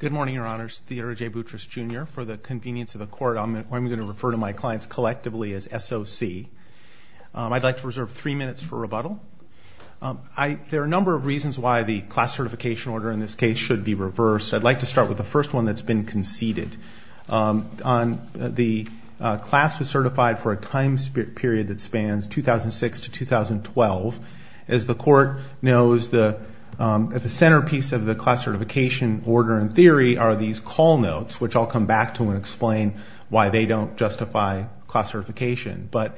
Good morning, your honors. Theodore J. Boutrous, Jr. For the convenience of the court, I'm going to refer to my clients collectively as SOC. I'd like to reserve three minutes for rebuttal. There are a number of reasons why the class certification order in this case should be reversed. I'd like to start with the first one that's been conceded. The class was certified for a time period that spans 2006 to 2012. As the court knows, the centerpiece of the class certification order in theory are these call notes, which I'll come back to and explain why they don't justify class certification. But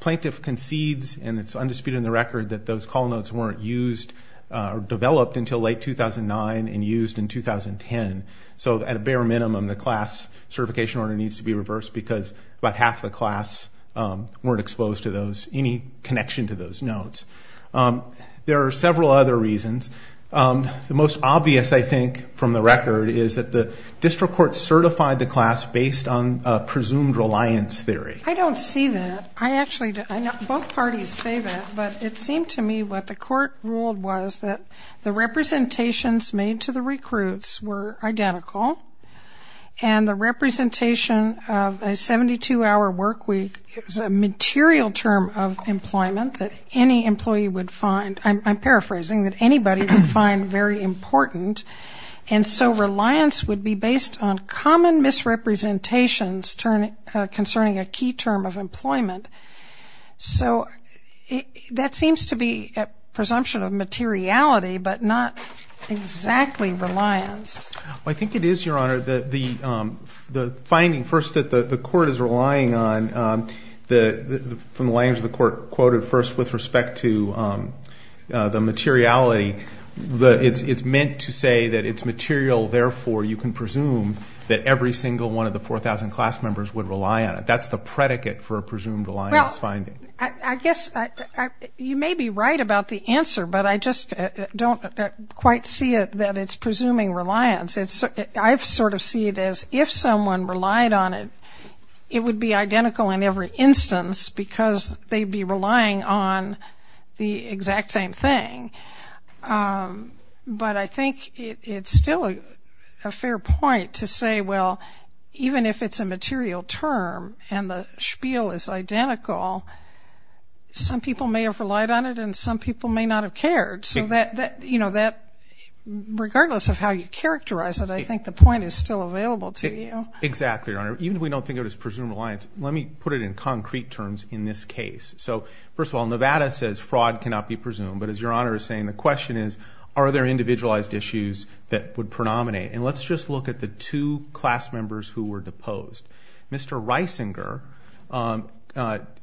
plaintiff concedes, and it's undisputed in the record, that those call notes weren't used or developed until late 2009 and used in 2010. So at a bare minimum, the class certification order needs to be reversed because about half the class weren't exposed to any connection to those notes. There are several other reasons. The most obvious, I think, from the record is that the district court certified the class based on a presumed reliance theory. I don't see that. I actually don't. Both parties say that. But it seemed to me what the court ruled was that the representations made to the recruits were identical and the representation of a 72-hour work week is a material term of employment that any employee would find. I'm paraphrasing, that anybody would find very important. And so reliance would be based on common misrepresentations concerning a key term of employment. So that seems to be a presumption of materiality, but not exactly reliance. I think it is, Your Honor. The finding first that the court is relying on from the language of the court quoted first with respect to the materiality, it's meant to say that it's material, therefore you can presume that every single one of the 4,000 class members would rely on it. That's the predicate for a presumed reliance finding. I guess you may be right about the answer, but I just don't quite see it that it's presuming reliance. I sort of see it as if someone relied on it, it would be identical in every instance because they'd be relying on the exact same thing. But I think it's still a fair point to say, well, even if it's a material term and the spiel is identical, some people may have relied on it and some people may not have cared. So regardless of how you characterize it, I think the point is still available to you. Exactly, Your Honor. Even if we don't think of it as presumed reliance, let me put it in concrete terms in this case. So first of all, Nevada says fraud cannot be presumed. But as Your Honor is saying, the question is, are there individualized issues that would predominate? And let's just look at the two class members who were deposed. Mr. Reisinger,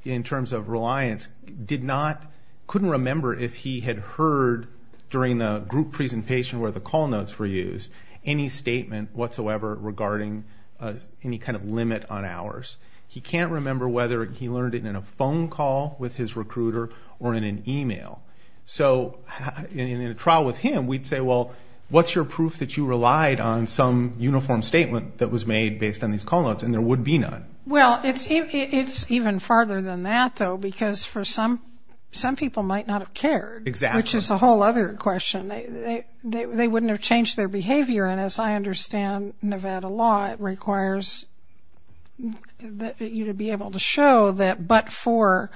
in terms of reliance, couldn't remember if he had heard during the group presentation where the call notes were used any statement whatsoever regarding any kind of limit on hours. He can't remember whether he learned it in a phone call with his recruiter or in an email. So in a trial with him, we'd say, well, what's your proof that you relied on some uniform statement that was made based on these call notes? And there would be none. Well, it's even farther than that, though, because for some, some people might not have cared, which is a whole other question. They wouldn't have changed their behavior. And as I understand Nevada law, it requires you to be able to show that but for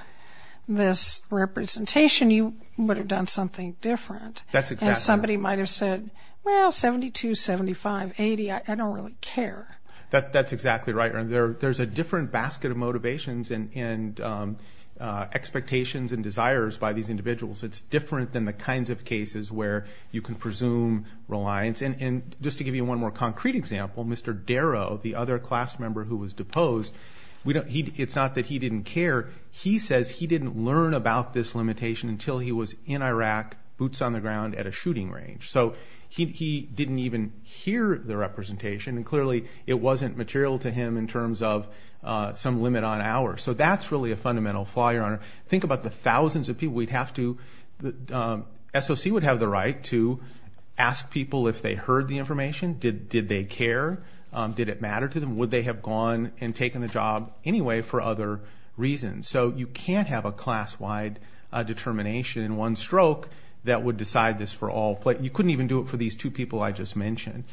this representation, you would have done something different. That's exactly right. And somebody might have said, well, 72, 75, 80, I don't really care. That's exactly right. There's a different basket of motivations and expectations and desires by these individuals. It's different than the kinds of cases where you can presume reliance. And just to give you one more concrete example, Mr. Darrow, the other class member who was deposed, it's not that he didn't care. He says he didn't learn about this limitation until he was in Iraq, boots on the ground, at a shooting range. So he didn't even hear the representation, and clearly it wasn't material to him in terms of some limit on hours. So that's really a fundamental flaw, Your Honor. Think about the thousands of people. The SOC would have the right to ask people if they heard the information. Did they care? Did it matter to them? Would they have gone and taken the job anyway for other reasons? So you can't have a class-wide determination in one stroke that would decide this for all. You couldn't even do it for these two people I just mentioned.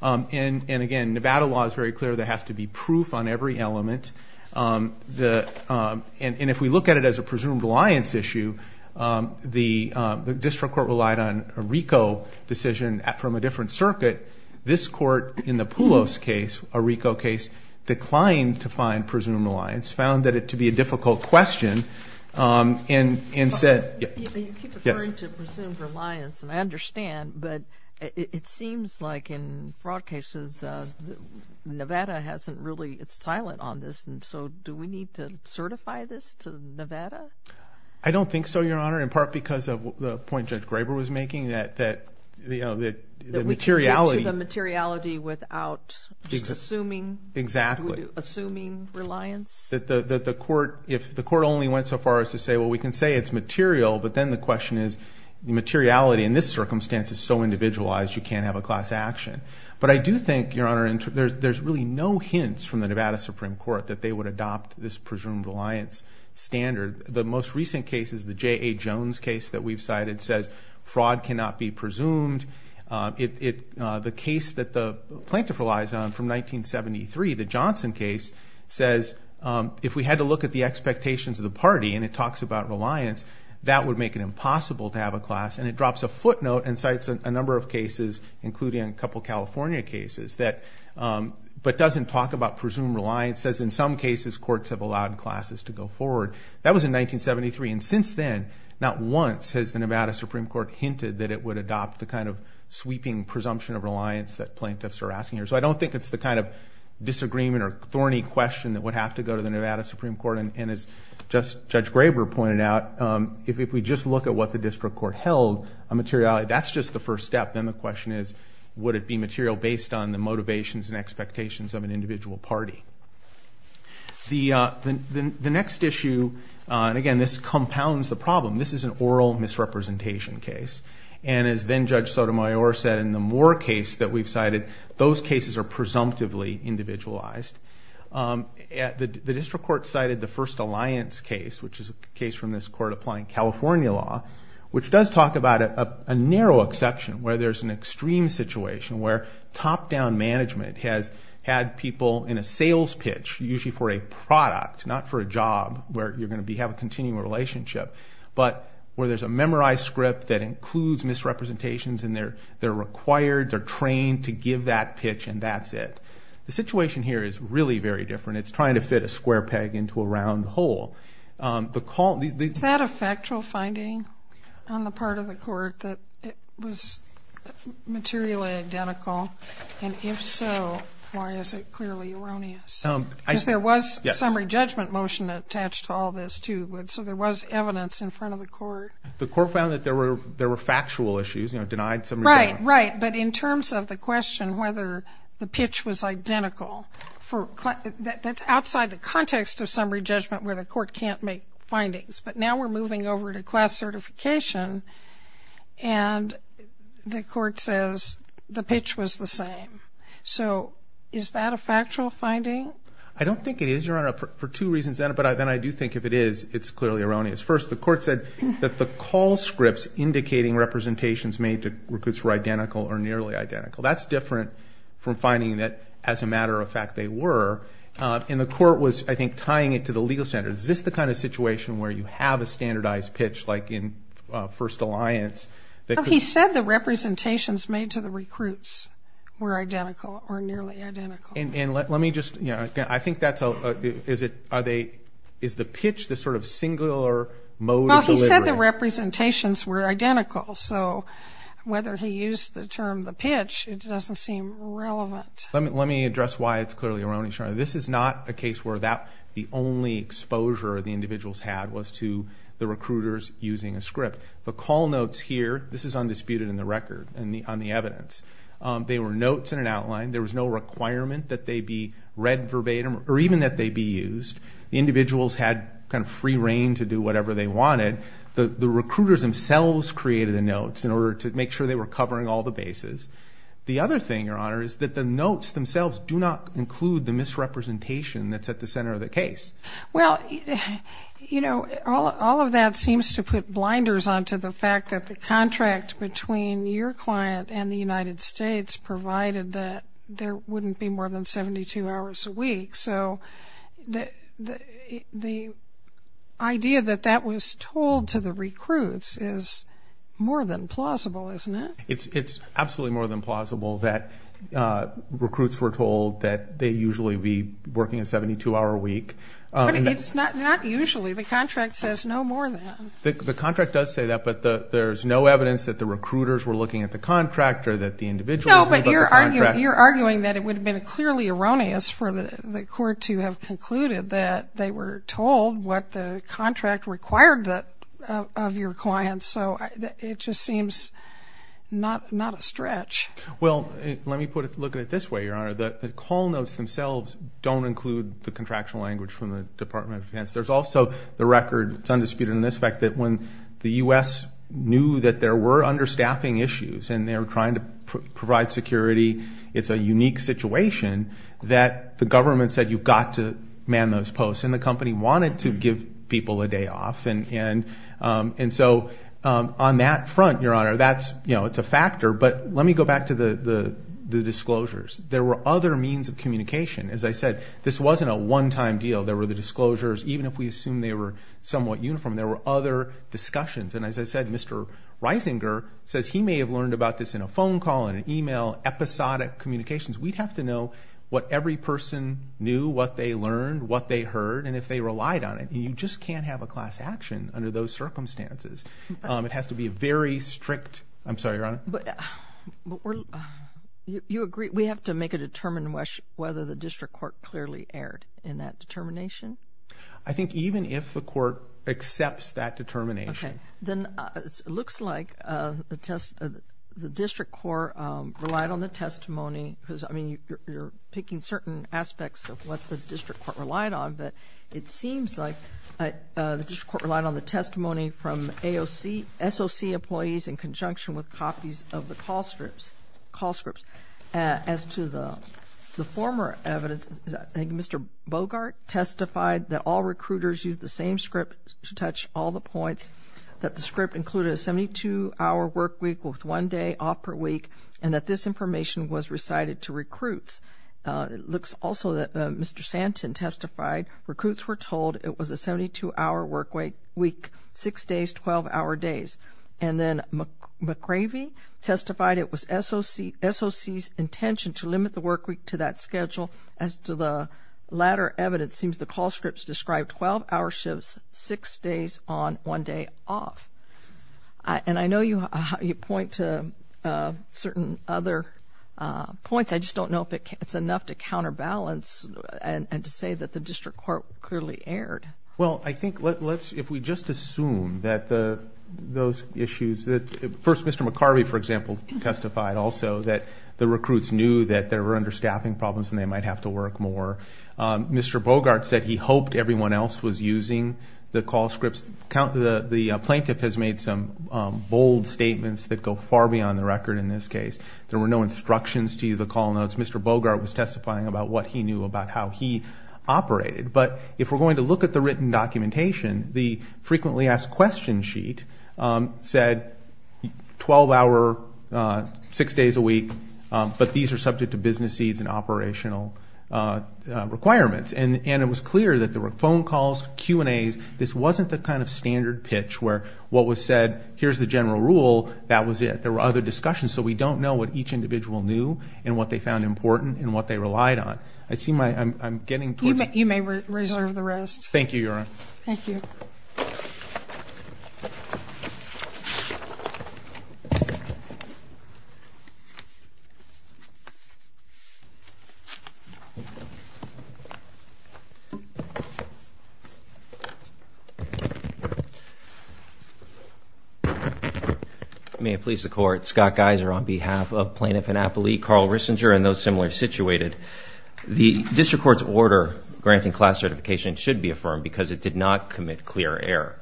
And, again, Nevada law is very clear. There has to be proof on every element. And if we look at it as a presumed reliance issue, the district court relied on a RICO decision from a different circuit. This court, in the Poulos case, a RICO case, declined to find presumed reliance, found that it to be a difficult question, and said yes. You keep referring to presumed reliance, and I understand, but it seems like in fraud cases, Nevada hasn't really, it's silent on this, and so do we need to certify this to Nevada? I don't think so, Your Honor, in part because of the point Judge Graber was making, that the materiality. That we can get to the materiality without assuming. Exactly. Assuming reliance. That the court, if the court only went so far as to say, well, we can say it's material, but then the question is, the materiality in this circumstance is so individualized, you can't have a class action. But I do think, Your Honor, there's really no hints from the Nevada Supreme Court that they would adopt this presumed reliance standard. The most recent cases, the J.A. Jones case that we've cited, says fraud cannot be presumed. The case that the plaintiff relies on from 1973, the Johnson case, says if we had to look at the expectations of the party, and it talks about reliance, that would make it impossible to have a class. And it drops a footnote and cites a number of cases, including a couple California cases, but doesn't talk about presumed reliance. It says in some cases, courts have allowed classes to go forward. That was in 1973, and since then, not once has the Nevada Supreme Court hinted that it would adopt the kind of sweeping presumption of reliance that plaintiffs are asking for. So I don't think it's the kind of disagreement or thorny question that would have to go to the Nevada Supreme Court. And as Judge Graber pointed out, if we just look at what the district court held, a materiality, that's just the first step. Then the question is, would it be material based on the motivations and expectations of an individual party? The next issue, and again, this compounds the problem, this is an oral misrepresentation case. And as then Judge Sotomayor said, in the Moore case that we've cited, those cases are presumptively individualized. The district court cited the first alliance case, which is a case from this court applying California law, which does talk about a narrow exception, where there's an extreme situation, where top-down management has had people in a sales pitch, usually for a product, not for a job where you're going to have a continuing relationship, but where there's a memorized script that includes misrepresentations, and they're required, they're trained to give that pitch, and that's it. The situation here is really very different. It's trying to fit a square peg into a round hole. Is that a factual finding on the part of the court, that it was materially identical? And if so, why is it clearly erroneous? Because there was a summary judgment motion attached to all this, too. So there was evidence in front of the court. The court found that there were factual issues, you know, denied summary judgment. Right, right. But in terms of the question whether the pitch was identical, that's outside the context of summary judgment where the court can't make findings. But now we're moving over to class certification, and the court says the pitch was the same. So is that a factual finding? I don't think it is, Your Honor, for two reasons. But then I do think if it is, it's clearly erroneous. First, the court said that the call scripts indicating representations made to recruits were identical or nearly identical. That's different from finding that, as a matter of fact, they were. And the court was, I think, tying it to the legal standards. Is this the kind of situation where you have a standardized pitch, like in First Alliance? He said the representations made to the recruits were identical or nearly identical. And let me just, you know, I think that's a, is it, are they, is the pitch the sort of singular mode of delivery? Well, he said the representations were identical. So whether he used the term the pitch, it doesn't seem relevant. Let me address why it's clearly erroneous, Your Honor. This is not a case where the only exposure the individuals had was to the recruiters using a script. The call notes here, this is undisputed in the record, on the evidence. They were notes in an outline. There was no requirement that they be read verbatim or even that they be used. The individuals had kind of free reign to do whatever they wanted. The recruiters themselves created the notes in order to make sure they were covering all the bases. The other thing, Your Honor, is that the notes themselves do not include the misrepresentation that's at the center of the case. Well, you know, all of that seems to put blinders onto the fact that the contract between your client and the United States provided that there wouldn't be more than 72 hours a week. So the idea that that was told to the recruits is more than plausible, isn't it? It's absolutely more than plausible that recruits were told that they usually be working a 72-hour week. But it's not usually. The contract says no more than. The contract does say that, but there's no evidence that the recruiters were looking at the contract or that the individuals were looking at the contract. No, but you're arguing that it would have been clearly erroneous for the court to have concluded that they were told what the contract required of your client. So it just seems not a stretch. Well, let me look at it this way, Your Honor. The call notes themselves don't include the contractual language from the Department of Defense. There's also the record that's undisputed in this fact that when the U.S. knew that there were understaffing issues and they were trying to provide security, it's a unique situation that the government said, you've got to man those posts, and the company wanted to give people a day off. And so on that front, Your Honor, that's a factor. But let me go back to the disclosures. There were other means of communication. As I said, this wasn't a one-time deal. There were the disclosures. Even if we assume they were somewhat uniform, there were other discussions. And as I said, Mr. Reisinger says he may have learned about this in a phone call, in an email, episodic communications. We'd have to know what every person knew, what they learned, what they heard, and if they relied on it. And you just can't have a class action under those circumstances. It has to be a very strictóI'm sorry, Your Honor. But you agree we have to make a determination whether the district court clearly erred in that determination? I think even if the court accepts that determination. Okay. Then it looks like the district court relied on the testimony because, I mean, you're picking certain aspects of what the district court relied on, but it seems like the district court relied on the testimony from SOC employees in conjunction with copies of the call scripts. As to the former evidence, I think Mr. Bogart testified that all recruiters used the same script to touch all the points, that the script included a 72-hour work week with one day off per week, and that this information was recited to recruits. It looks also that Mr. Santon testified recruits were told it was a 72-hour work week, six days, 12-hour days. And then McCravey testified it was SOC's intention to limit the work week to that schedule. As to the latter evidence, it seems the call scripts described 12-hour shifts, six days on, one day off. And I know you point to certain other points. I just don't know if it's enough to counterbalance and to say that the district court clearly erred. Well, I think if we just assume that those issues that first Mr. McCravey, for example, testified also that the recruits knew that they were under staffing problems and they might have to work more. Mr. Bogart said he hoped everyone else was using the call scripts. The plaintiff has made some bold statements that go far beyond the record in this case. There were no instructions to use the call notes. Mr. Bogart was testifying about what he knew about how he operated. But if we're going to look at the written documentation, the frequently asked question sheet said 12-hour, six days a week, but these are subject to business needs and operational requirements. And it was clear that there were phone calls, Q&As. This wasn't the kind of standard pitch where what was said, here's the general rule, that was it. There were other discussions. So we don't know what each individual knew and what they found important and what they relied on. I see my ‑‑I'm getting towards ‑‑ You may reserve the rest. Thank you, Your Honor. Thank you. May it please the Court. Scott Geiser on behalf of Plaintiff Annapolis, Carl Rissinger and those similar situated. The district court's order granting class certification should be affirmed because it did not commit clear error.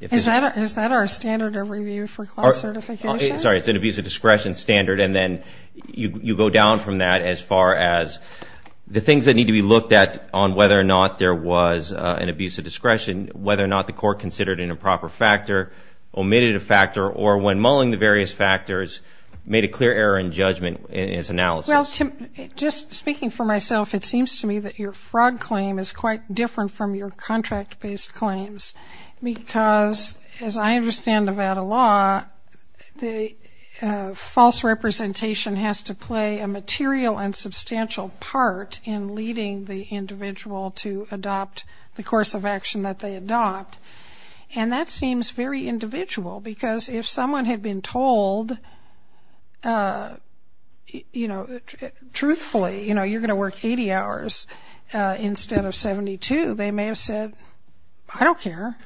Is that our standard of review for class certification? Sorry, it's an abuse of discretion standard, and then you go down from that as far as the things that need to be looked at on whether or not there was an abuse of discretion, whether or not the court considered an improper factor, omitted a factor, or when mulling the various factors, made a clear error in judgment in its analysis. Well, Tim, just speaking for myself, it seems to me that your fraud claim is quite different from your contract-based claims because, as I understand Nevada law, the false representation has to play a material and substantial part in leading the individual to adopt the course of action that they adopt. And that seems very individual because if someone had been told, you know, truthfully, you know, you're going to work 80 hours instead of 72, they may have said, I don't care.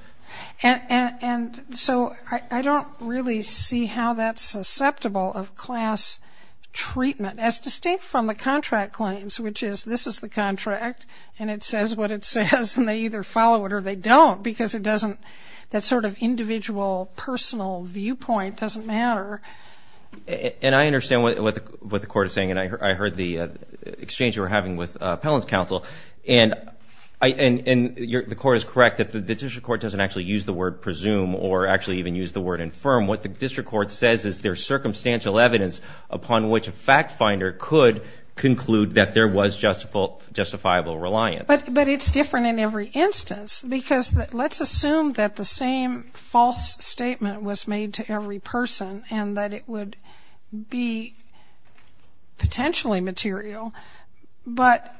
And so I don't really see how that's susceptible of class treatment as distinct from the contract claims, which is this is the contract, and it says what it says, and they either follow it or they don't because it doesn't, that sort of individual personal viewpoint doesn't matter. And I understand what the court is saying, and I heard the exchange you were having with Appellant's counsel, and the court is correct that the district court doesn't actually use the word presume or actually even use the word infirm. What the district court says is there's circumstantial evidence upon which a fact finder could conclude that there was justifiable reliance. But it's different in every instance because let's assume that the same false statement was made to every person and that it would be potentially material, but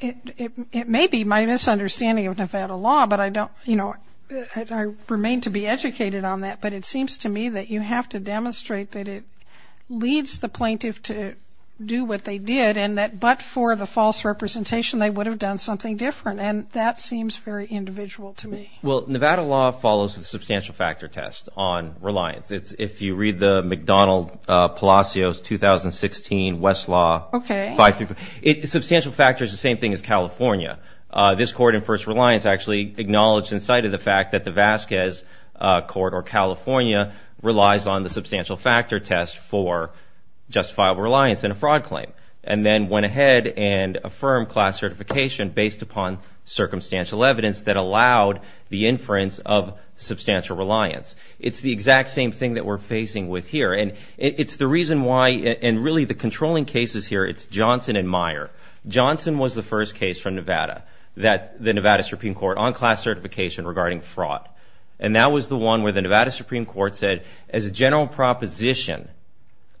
it may be my misunderstanding of Nevada law, but I don't, you know, I remain to be educated on that, but it seems to me that you have to demonstrate that it leads the plaintiff to do what they did and that but for the false representation they would have done something different, and that seems very individual to me. Well, Nevada law follows the substantial factor test on reliance. If you read the McDonald-Palacios 2016 Westlaw, substantial factor is the same thing as California. This court in first reliance actually acknowledged and cited the fact that the Vasquez court or California relies on the substantial factor test for justifiable reliance in a fraud claim and then went ahead and affirmed class certification based upon circumstantial evidence that allowed the inference of substantial reliance. It's the exact same thing that we're facing with here, and it's the reason why and really the controlling cases here, it's Johnson and Meyer. Johnson was the first case from Nevada that the Nevada Supreme Court on class certification regarding fraud, and that was the one where the Nevada Supreme Court said as a general proposition,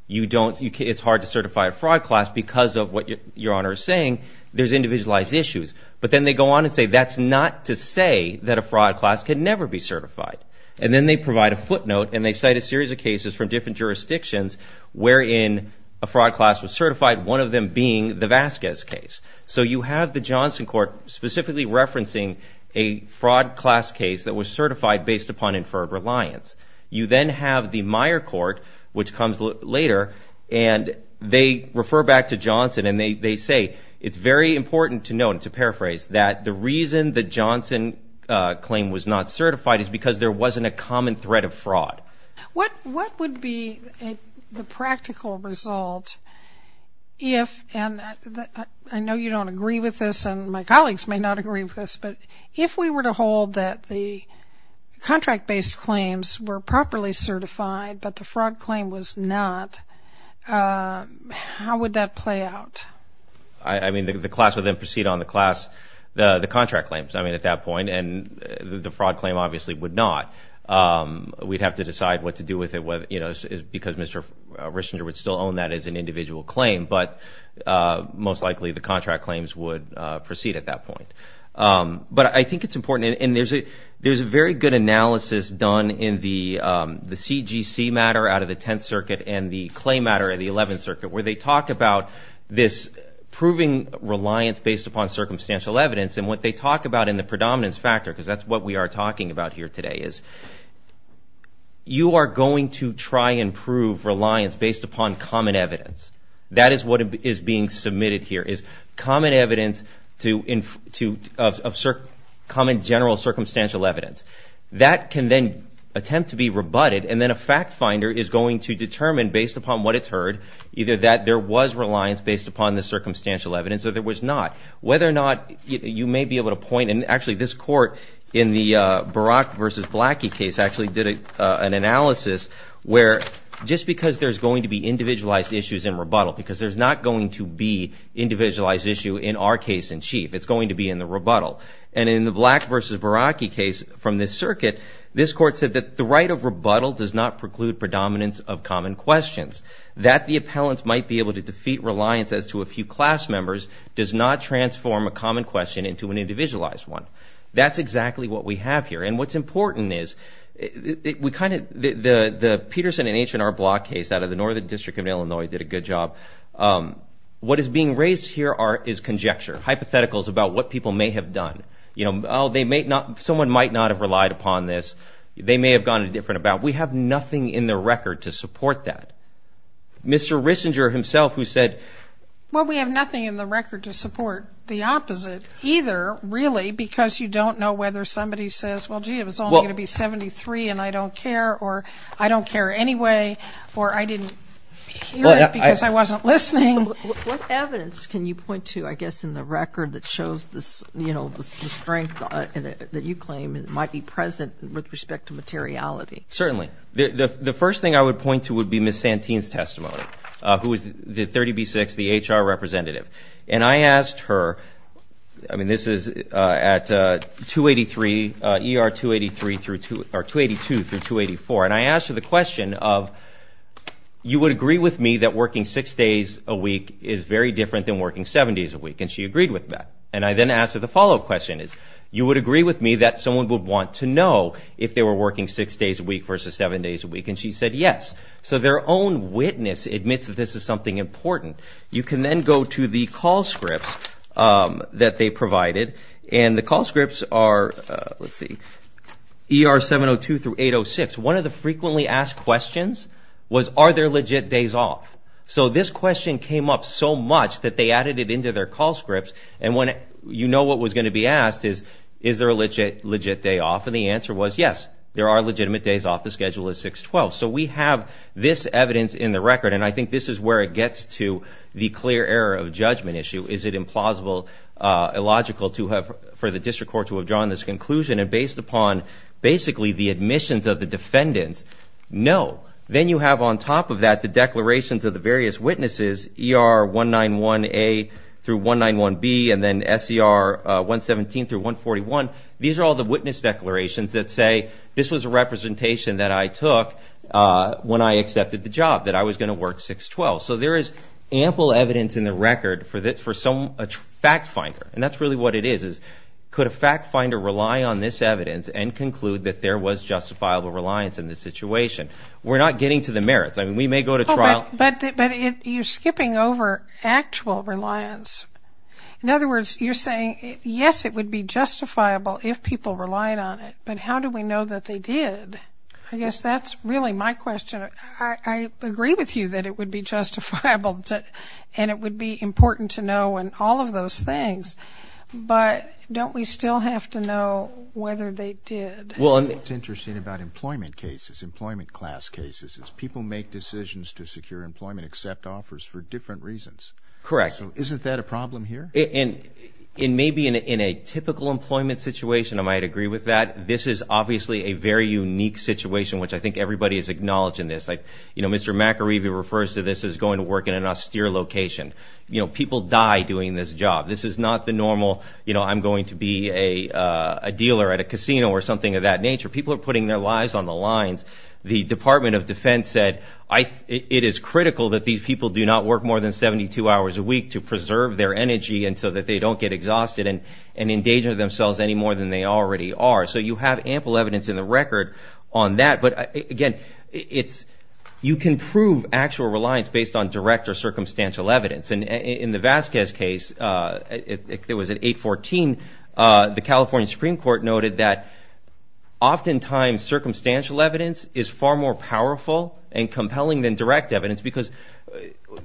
it's hard to certify a fraud class because of what Your Honor is saying, there's individualized issues. But then they go on and say that's not to say that a fraud class can never be certified, and then they provide a footnote and they cite a series of cases from different jurisdictions wherein a fraud class was certified, one of them being the Vasquez case. So you have the Johnson court specifically referencing a fraud class case that was certified based upon inferred reliance. You then have the Meyer court, which comes later, and they refer back to Johnson and they say it's very important to note and to paraphrase that the reason the Johnson claim was not certified is because there wasn't a common thread of fraud. What would be the practical result if, and I know you don't agree with this and my colleagues may not agree with this, but if we were to hold that the contract-based claims were properly certified but the fraud claim was not, how would that play out? I mean, the class would then proceed on the contract claims at that point, and the fraud claim obviously would not. We'd have to decide what to do with it, because Mr. Richinger would still own that as an individual claim, but most likely the contract claims would proceed at that point. But I think it's important, and there's a very good analysis done in the CGC matter out of the Tenth Circuit and the Clay matter of the Eleventh Circuit where they talk about this proving reliance based upon circumstantial evidence, and what they talk about in the predominance factor, because that's what we are talking about here today, is you are going to try and prove reliance based upon common evidence. That is what is being submitted here, is common evidence of common general circumstantial evidence. That can then attempt to be rebutted, and then a fact finder is going to determine based upon what it's heard either that there was reliance based upon the circumstantial evidence or there was not. Whether or not you may be able to point, and actually this court in the Barack v. Blackie case actually did an analysis where just because there's going to be individualized issues in rebuttal, because there's not going to be individualized issue in our case in chief, it's going to be in the rebuttal. And in the Black v. Blackie case from this circuit, this court said that the right of rebuttal does not preclude predominance of common questions. That the appellants might be able to defeat reliance as to a few class members does not transform a common question into an individualized one. That's exactly what we have here. And what's important is the Peterson and H&R Block case out of the Northern District of Illinois did a good job. What is being raised here is conjecture, hypotheticals about what people may have done. Someone might not have relied upon this. They may have gone a different about. We have nothing in the record to support that. Mr. Rissinger himself who said. Well, we have nothing in the record to support the opposite either, really, because you don't know whether somebody says, well, gee, it was only going to be 73 and I don't care, or I don't care anyway, or I didn't hear it because I wasn't listening. What evidence can you point to, I guess, in the record that shows the strength that you claim might be present with respect to materiality? Certainly. The first thing I would point to would be Ms. Santine's testimony, who is the 30B6, the HR representative. And I asked her, I mean, this is at 283, ER 282 through 284, and I asked her the question of you would agree with me that working six days a week is very different than working seven days a week, and she agreed with that. And I then asked her the follow-up question is you would agree with me that someone would want to know if they were working six days a week versus seven days a week, and she said yes. So their own witness admits that this is something important. You can then go to the call scripts that they provided, and the call scripts are, let's see, ER 702 through 806. One of the frequently asked questions was are there legit days off? So this question came up so much that they added it into their call scripts, and you know what was going to be asked is is there a legit day off, and the answer was yes, there are legitimate days off. The schedule is 6-12. So we have this evidence in the record, and I think this is where it gets to the clear error of judgment issue. Is it implausible, illogical for the district court to have drawn this conclusion, and based upon basically the admissions of the defendants, no. Then you have on top of that the declarations of the various witnesses, ER 191A through 191B, and then SCR 117 through 141. These are all the witness declarations that say this was a representation that I took when I accepted the job, that I was going to work 6-12. So there is ample evidence in the record for a fact finder, and that's really what it is, is could a fact finder rely on this evidence and conclude that there was justifiable reliance in this situation? We're not getting to the merits. I mean, we may go to trial. But you're skipping over actual reliance. In other words, you're saying, yes, it would be justifiable if people relied on it, but how do we know that they did? I guess that's really my question. I agree with you that it would be justifiable, and it would be important to know and all of those things, but don't we still have to know whether they did? What's interesting about employment cases, employment class cases, is people make decisions to secure employment, accept offers for different reasons. Correct. So isn't that a problem here? And maybe in a typical employment situation, I might agree with that. This is obviously a very unique situation, which I think everybody is acknowledging this. You know, Mr. McAreeby refers to this as going to work in an austere location. You know, people die doing this job. This is not the normal, you know, I'm going to be a dealer at a casino or something of that nature. People are putting their lives on the lines. The Department of Defense said it is critical that these people do not work more than 72 hours a week to preserve their energy and so that they don't get exhausted and endanger themselves any more than they already are. So you have ample evidence in the record on that. But, again, you can prove actual reliance based on direct or circumstantial evidence. And in the Vasquez case, it was at 814, the California Supreme Court noted that oftentimes circumstantial evidence is far more powerful and compelling than direct evidence because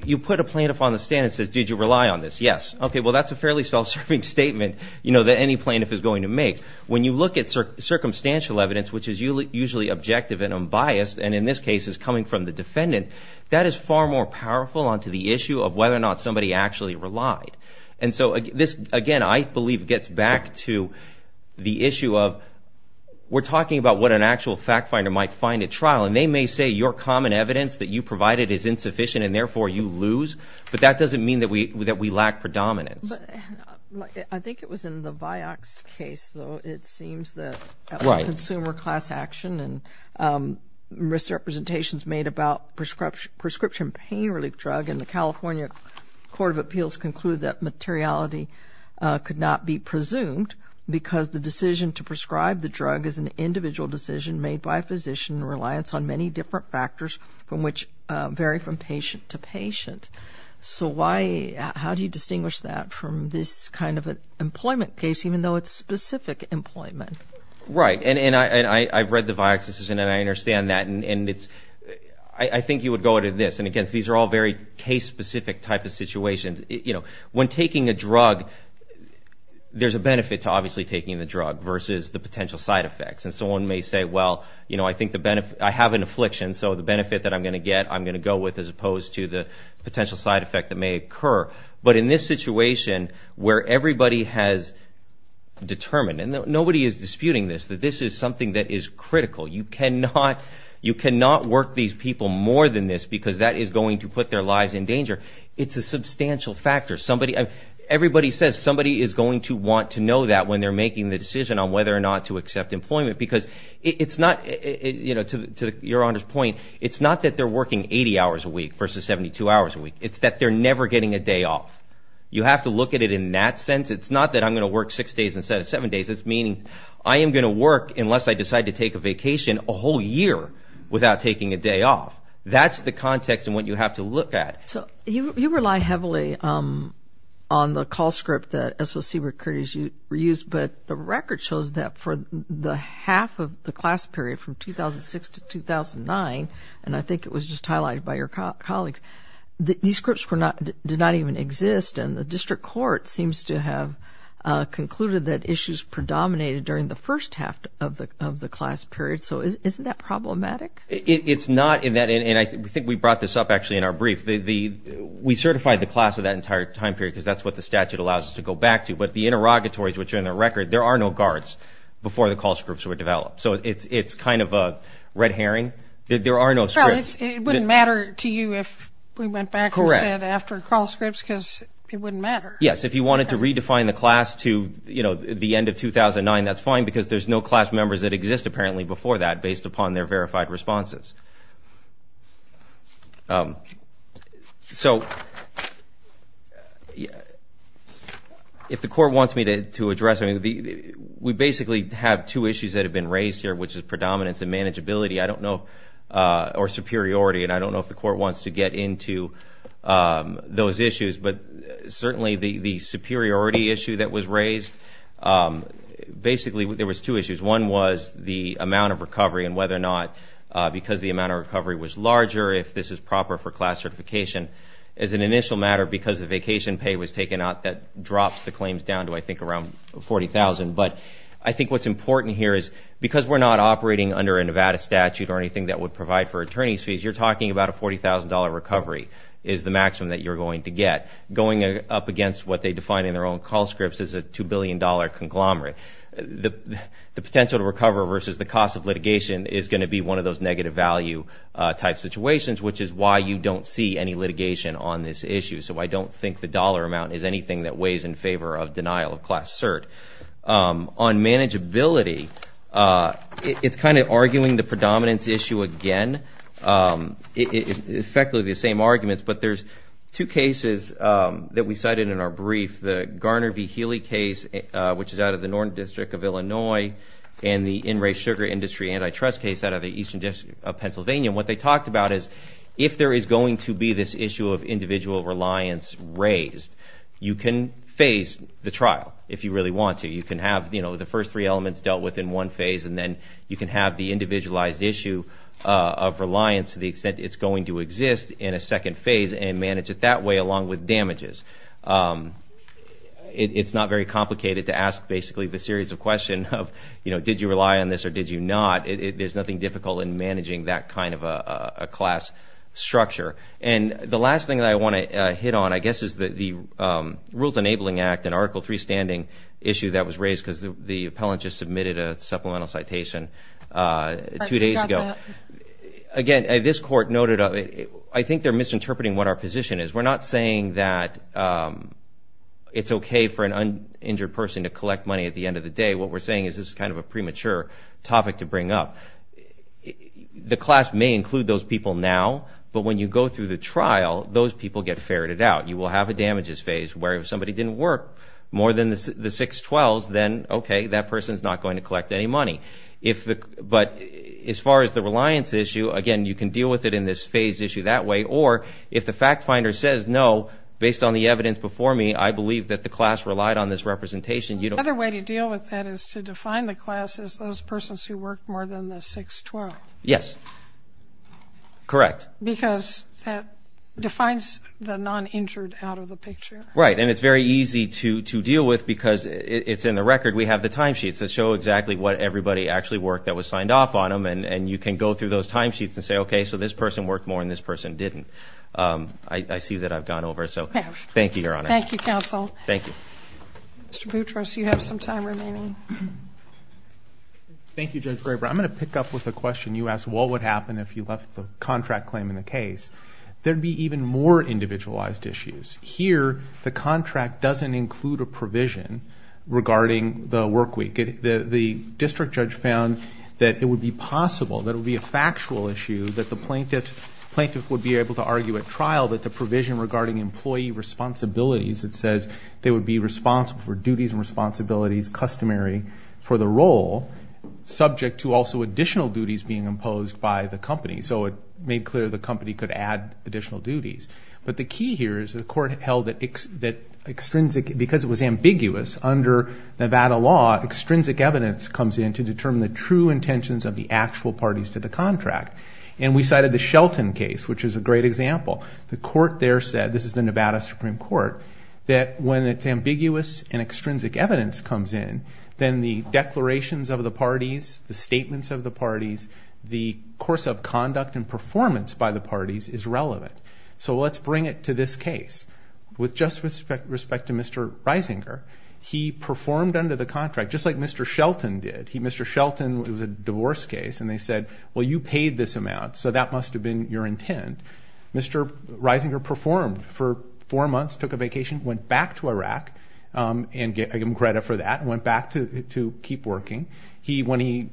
you put a plaintiff on the stand and say, did you rely on this? Yes. Okay, well, that's a fairly self-serving statement, you know, that any plaintiff is going to make. When you look at circumstantial evidence, which is usually objective and unbiased, and in this case is coming from the defendant, that is far more powerful onto the issue of whether or not somebody actually relied. And so this, again, I believe gets back to the issue of we're talking about what an actual fact finder might find at trial, and they may say your common evidence that you provided is insufficient and therefore you lose, but that doesn't mean that we lack predominance. I think it was in the Vioxx case, though, it seems that consumer class action and misrepresentations made about prescription pain relief drug in the California Court of Appeals conclude that materiality could not be presumed because the decision to prescribe the drug is an individual decision made by a physician reliance on many different factors from which vary from patient to patient. So how do you distinguish that from this kind of an employment case, even though it's specific employment? Right, and I've read the Vioxx decision and I understand that, and I think you would go to this. And, again, these are all very case-specific type of situations. You know, when taking a drug, there's a benefit to obviously taking the drug versus the potential side effects. And someone may say, well, you know, I have an affliction, so the benefit that I'm going to get I'm going to go with as opposed to the potential side effect that may occur. But in this situation where everybody has determined, and nobody is disputing this, that this is something that is critical. You cannot work these people more than this because that is going to put their lives in danger. It's a substantial factor. Everybody says somebody is going to want to know that when they're making the decision on whether or not to accept employment because it's not, you know, to Your Honor's point, it's not that they're working 80 hours a week versus 72 hours a week. It's that they're never getting a day off. You have to look at it in that sense. It's not that I'm going to work six days instead of seven days. It's meaning I am going to work unless I decide to take a vacation a whole year without taking a day off. That's the context and what you have to look at. So you rely heavily on the call script that SOC recruiters use, but the record shows that for the half of the class period from 2006 to 2009, and I think it was just highlighted by your colleagues, these scripts did not even exist and the district court seems to have concluded that issues predominated during the first half of the class period. So isn't that problematic? It's not in that, and I think we brought this up actually in our brief. We certified the class of that entire time period because that's what the statute allows us to go back to, but the interrogatories which are in the record, there are no guards before the call scripts were developed. So it's kind of a red herring. There are no scripts. Well, it wouldn't matter to you if we went back and said after call scripts because it wouldn't matter. Yes, if you wanted to redefine the class to the end of 2009, that's fine because there's no class members that exist apparently before that based upon their verified responses. So if the court wants me to address, we basically have two issues that have been raised here, which is predominance and manageability or superiority, and I don't know if the court wants to get into those issues, but certainly the superiority issue that was raised, basically there was two issues. One was the amount of recovery and whether or not because the amount of recovery was larger, if this is proper for class certification. As an initial matter, because the vacation pay was taken out, that drops the claims down to, I think, around $40,000. But I think what's important here is because we're not operating under a Nevada statute or anything that would provide for attorney's fees, you're talking about a $40,000 recovery is the maximum that you're going to get. Going up against what they define in their own call scripts is a $2 billion conglomerate. The potential to recover versus the cost of litigation is going to be one of those negative value type situations, which is why you don't see any litigation on this issue. So I don't think the dollar amount is anything that weighs in favor of denial of class cert. On manageability, it's kind of arguing the predominance issue again. It's effectively the same arguments, but there's two cases that we cited in our brief, the Garner v. Healy case, which is out of the Northern District of Illinois, and the in-race sugar industry antitrust case out of the Eastern District of Pennsylvania. And what they talked about is if there is going to be this issue of individual reliance raised, you can phase the trial if you really want to. You can have the first three elements dealt with in one phase, and then you can have the individualized issue of reliance to the extent it's going to exist in a second phase and manage it that way along with damages. It's not very complicated to ask basically the series of questions of, you know, did you rely on this or did you not? There's nothing difficult in managing that kind of a class structure. And the last thing that I want to hit on I guess is the Rules Enabling Act, an Article 3 standing issue that was raised because the appellant just submitted a supplemental citation two days ago. Again, this court noted I think they're misinterpreting what our position is. We're not saying that it's okay for an injured person to collect money at the end of the day. What we're saying is this is kind of a premature topic to bring up. The class may include those people now, but when you go through the trial, those people get ferreted out. You will have a damages phase where if somebody didn't work more than the 612s, then okay, that person's not going to collect any money. But as far as the reliance issue, again, you can deal with it in this phase issue that way, or if the fact finder says no, based on the evidence before me, I believe that the class relied on this representation. Another way to deal with that is to define the class as those persons who worked more than the 612. Yes, correct. Because that defines the non-injured out of the picture. Right, and it's very easy to deal with because it's in the record. We have the timesheets that show exactly what everybody actually worked that was signed off on them, and you can go through those timesheets and say, okay, so this person worked more and this person didn't. I see that I've gone over, so thank you, Your Honor. Thank you, Counsel. Thank you. Mr. Boutros, you have some time remaining. Thank you, Judge Graber. I'm going to pick up with a question you asked, what would happen if you left the contract claim in the case? There would be even more individualized issues. Here, the contract doesn't include a provision regarding the work week. The district judge found that it would be possible, that it would be a factual issue, that the plaintiff would be able to argue at trial that the provision regarding employee responsibilities that says they would be responsible for duties and responsibilities customary for the role, subject to also additional duties being imposed by the company. So it made clear the company could add additional duties. But the key here is the court held that extrinsic, because it was ambiguous under Nevada law, extrinsic evidence comes in to determine the true intentions of the actual parties to the contract. And we cited the Shelton case, which is a great example. The court there said, this is the Nevada Supreme Court, that when it's ambiguous and extrinsic evidence comes in, then the declarations of the parties, the statements of the parties, the course of conduct and performance by the parties is relevant. So let's bring it to this case. With just respect to Mr. Reisinger, he performed under the contract, just like Mr. Shelton did. Mr. Shelton, it was a divorce case, and they said, well, you paid this amount, so that must have been your intent. Mr. Reisinger performed for four months, took a vacation, went back to Iraq and gave him credit for that, went back to keep working. When he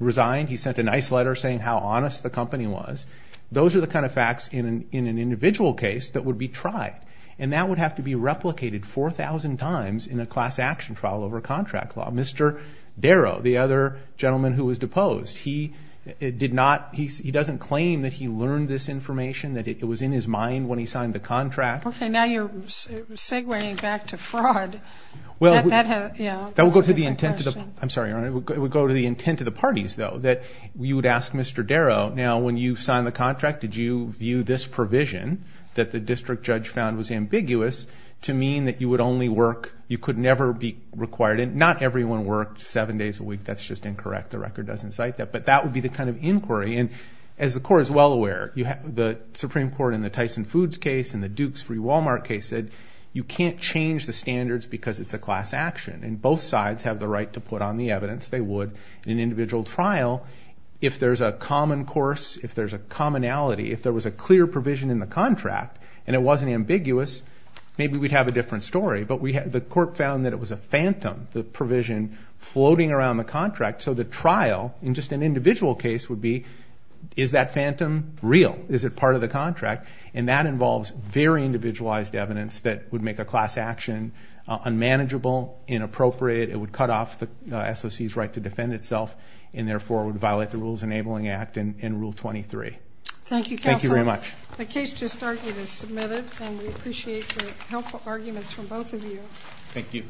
resigned, he sent a nice letter saying how honest the company was. Those are the kind of facts in an individual case that would be tried, and that would have to be replicated 4,000 times in a class action trial over contract law. Mr. Darrow, the other gentleman who was deposed, he doesn't claim that he learned this information, that it was in his mind when he signed the contract. Okay, now you're segueing back to fraud. That would go to the intent of the parties, though, that you would ask Mr. Darrow, now when you signed the contract, did you view this provision that the district judge found was ambiguous to mean that you would only work, you could never be required, and not everyone worked seven days a week. That's just incorrect. The record doesn't cite that. But that would be the kind of inquiry, and as the Court is well aware, the Supreme Court in the Tyson Foods case and the Dukes v. Wal-Mart case said you can't change the standards because it's a class action, and both sides have the right to put on the evidence. They would in an individual trial. If there's a common course, if there's a commonality, if there was a clear provision in the contract and it wasn't ambiguous, maybe we'd have a different story. But the Court found that it was a phantom, the provision floating around the contract. So the trial in just an individual case would be, is that phantom real? Is it part of the contract? And that involves very individualized evidence that would make a class action unmanageable, inappropriate. It would cut off the SOC's right to defend itself and therefore would violate the Rules Enabling Act and Rule 23. Thank you, Counselor. Thank you very much. The case just argued is submitted, and we appreciate the helpful arguments from both of you. Thank you.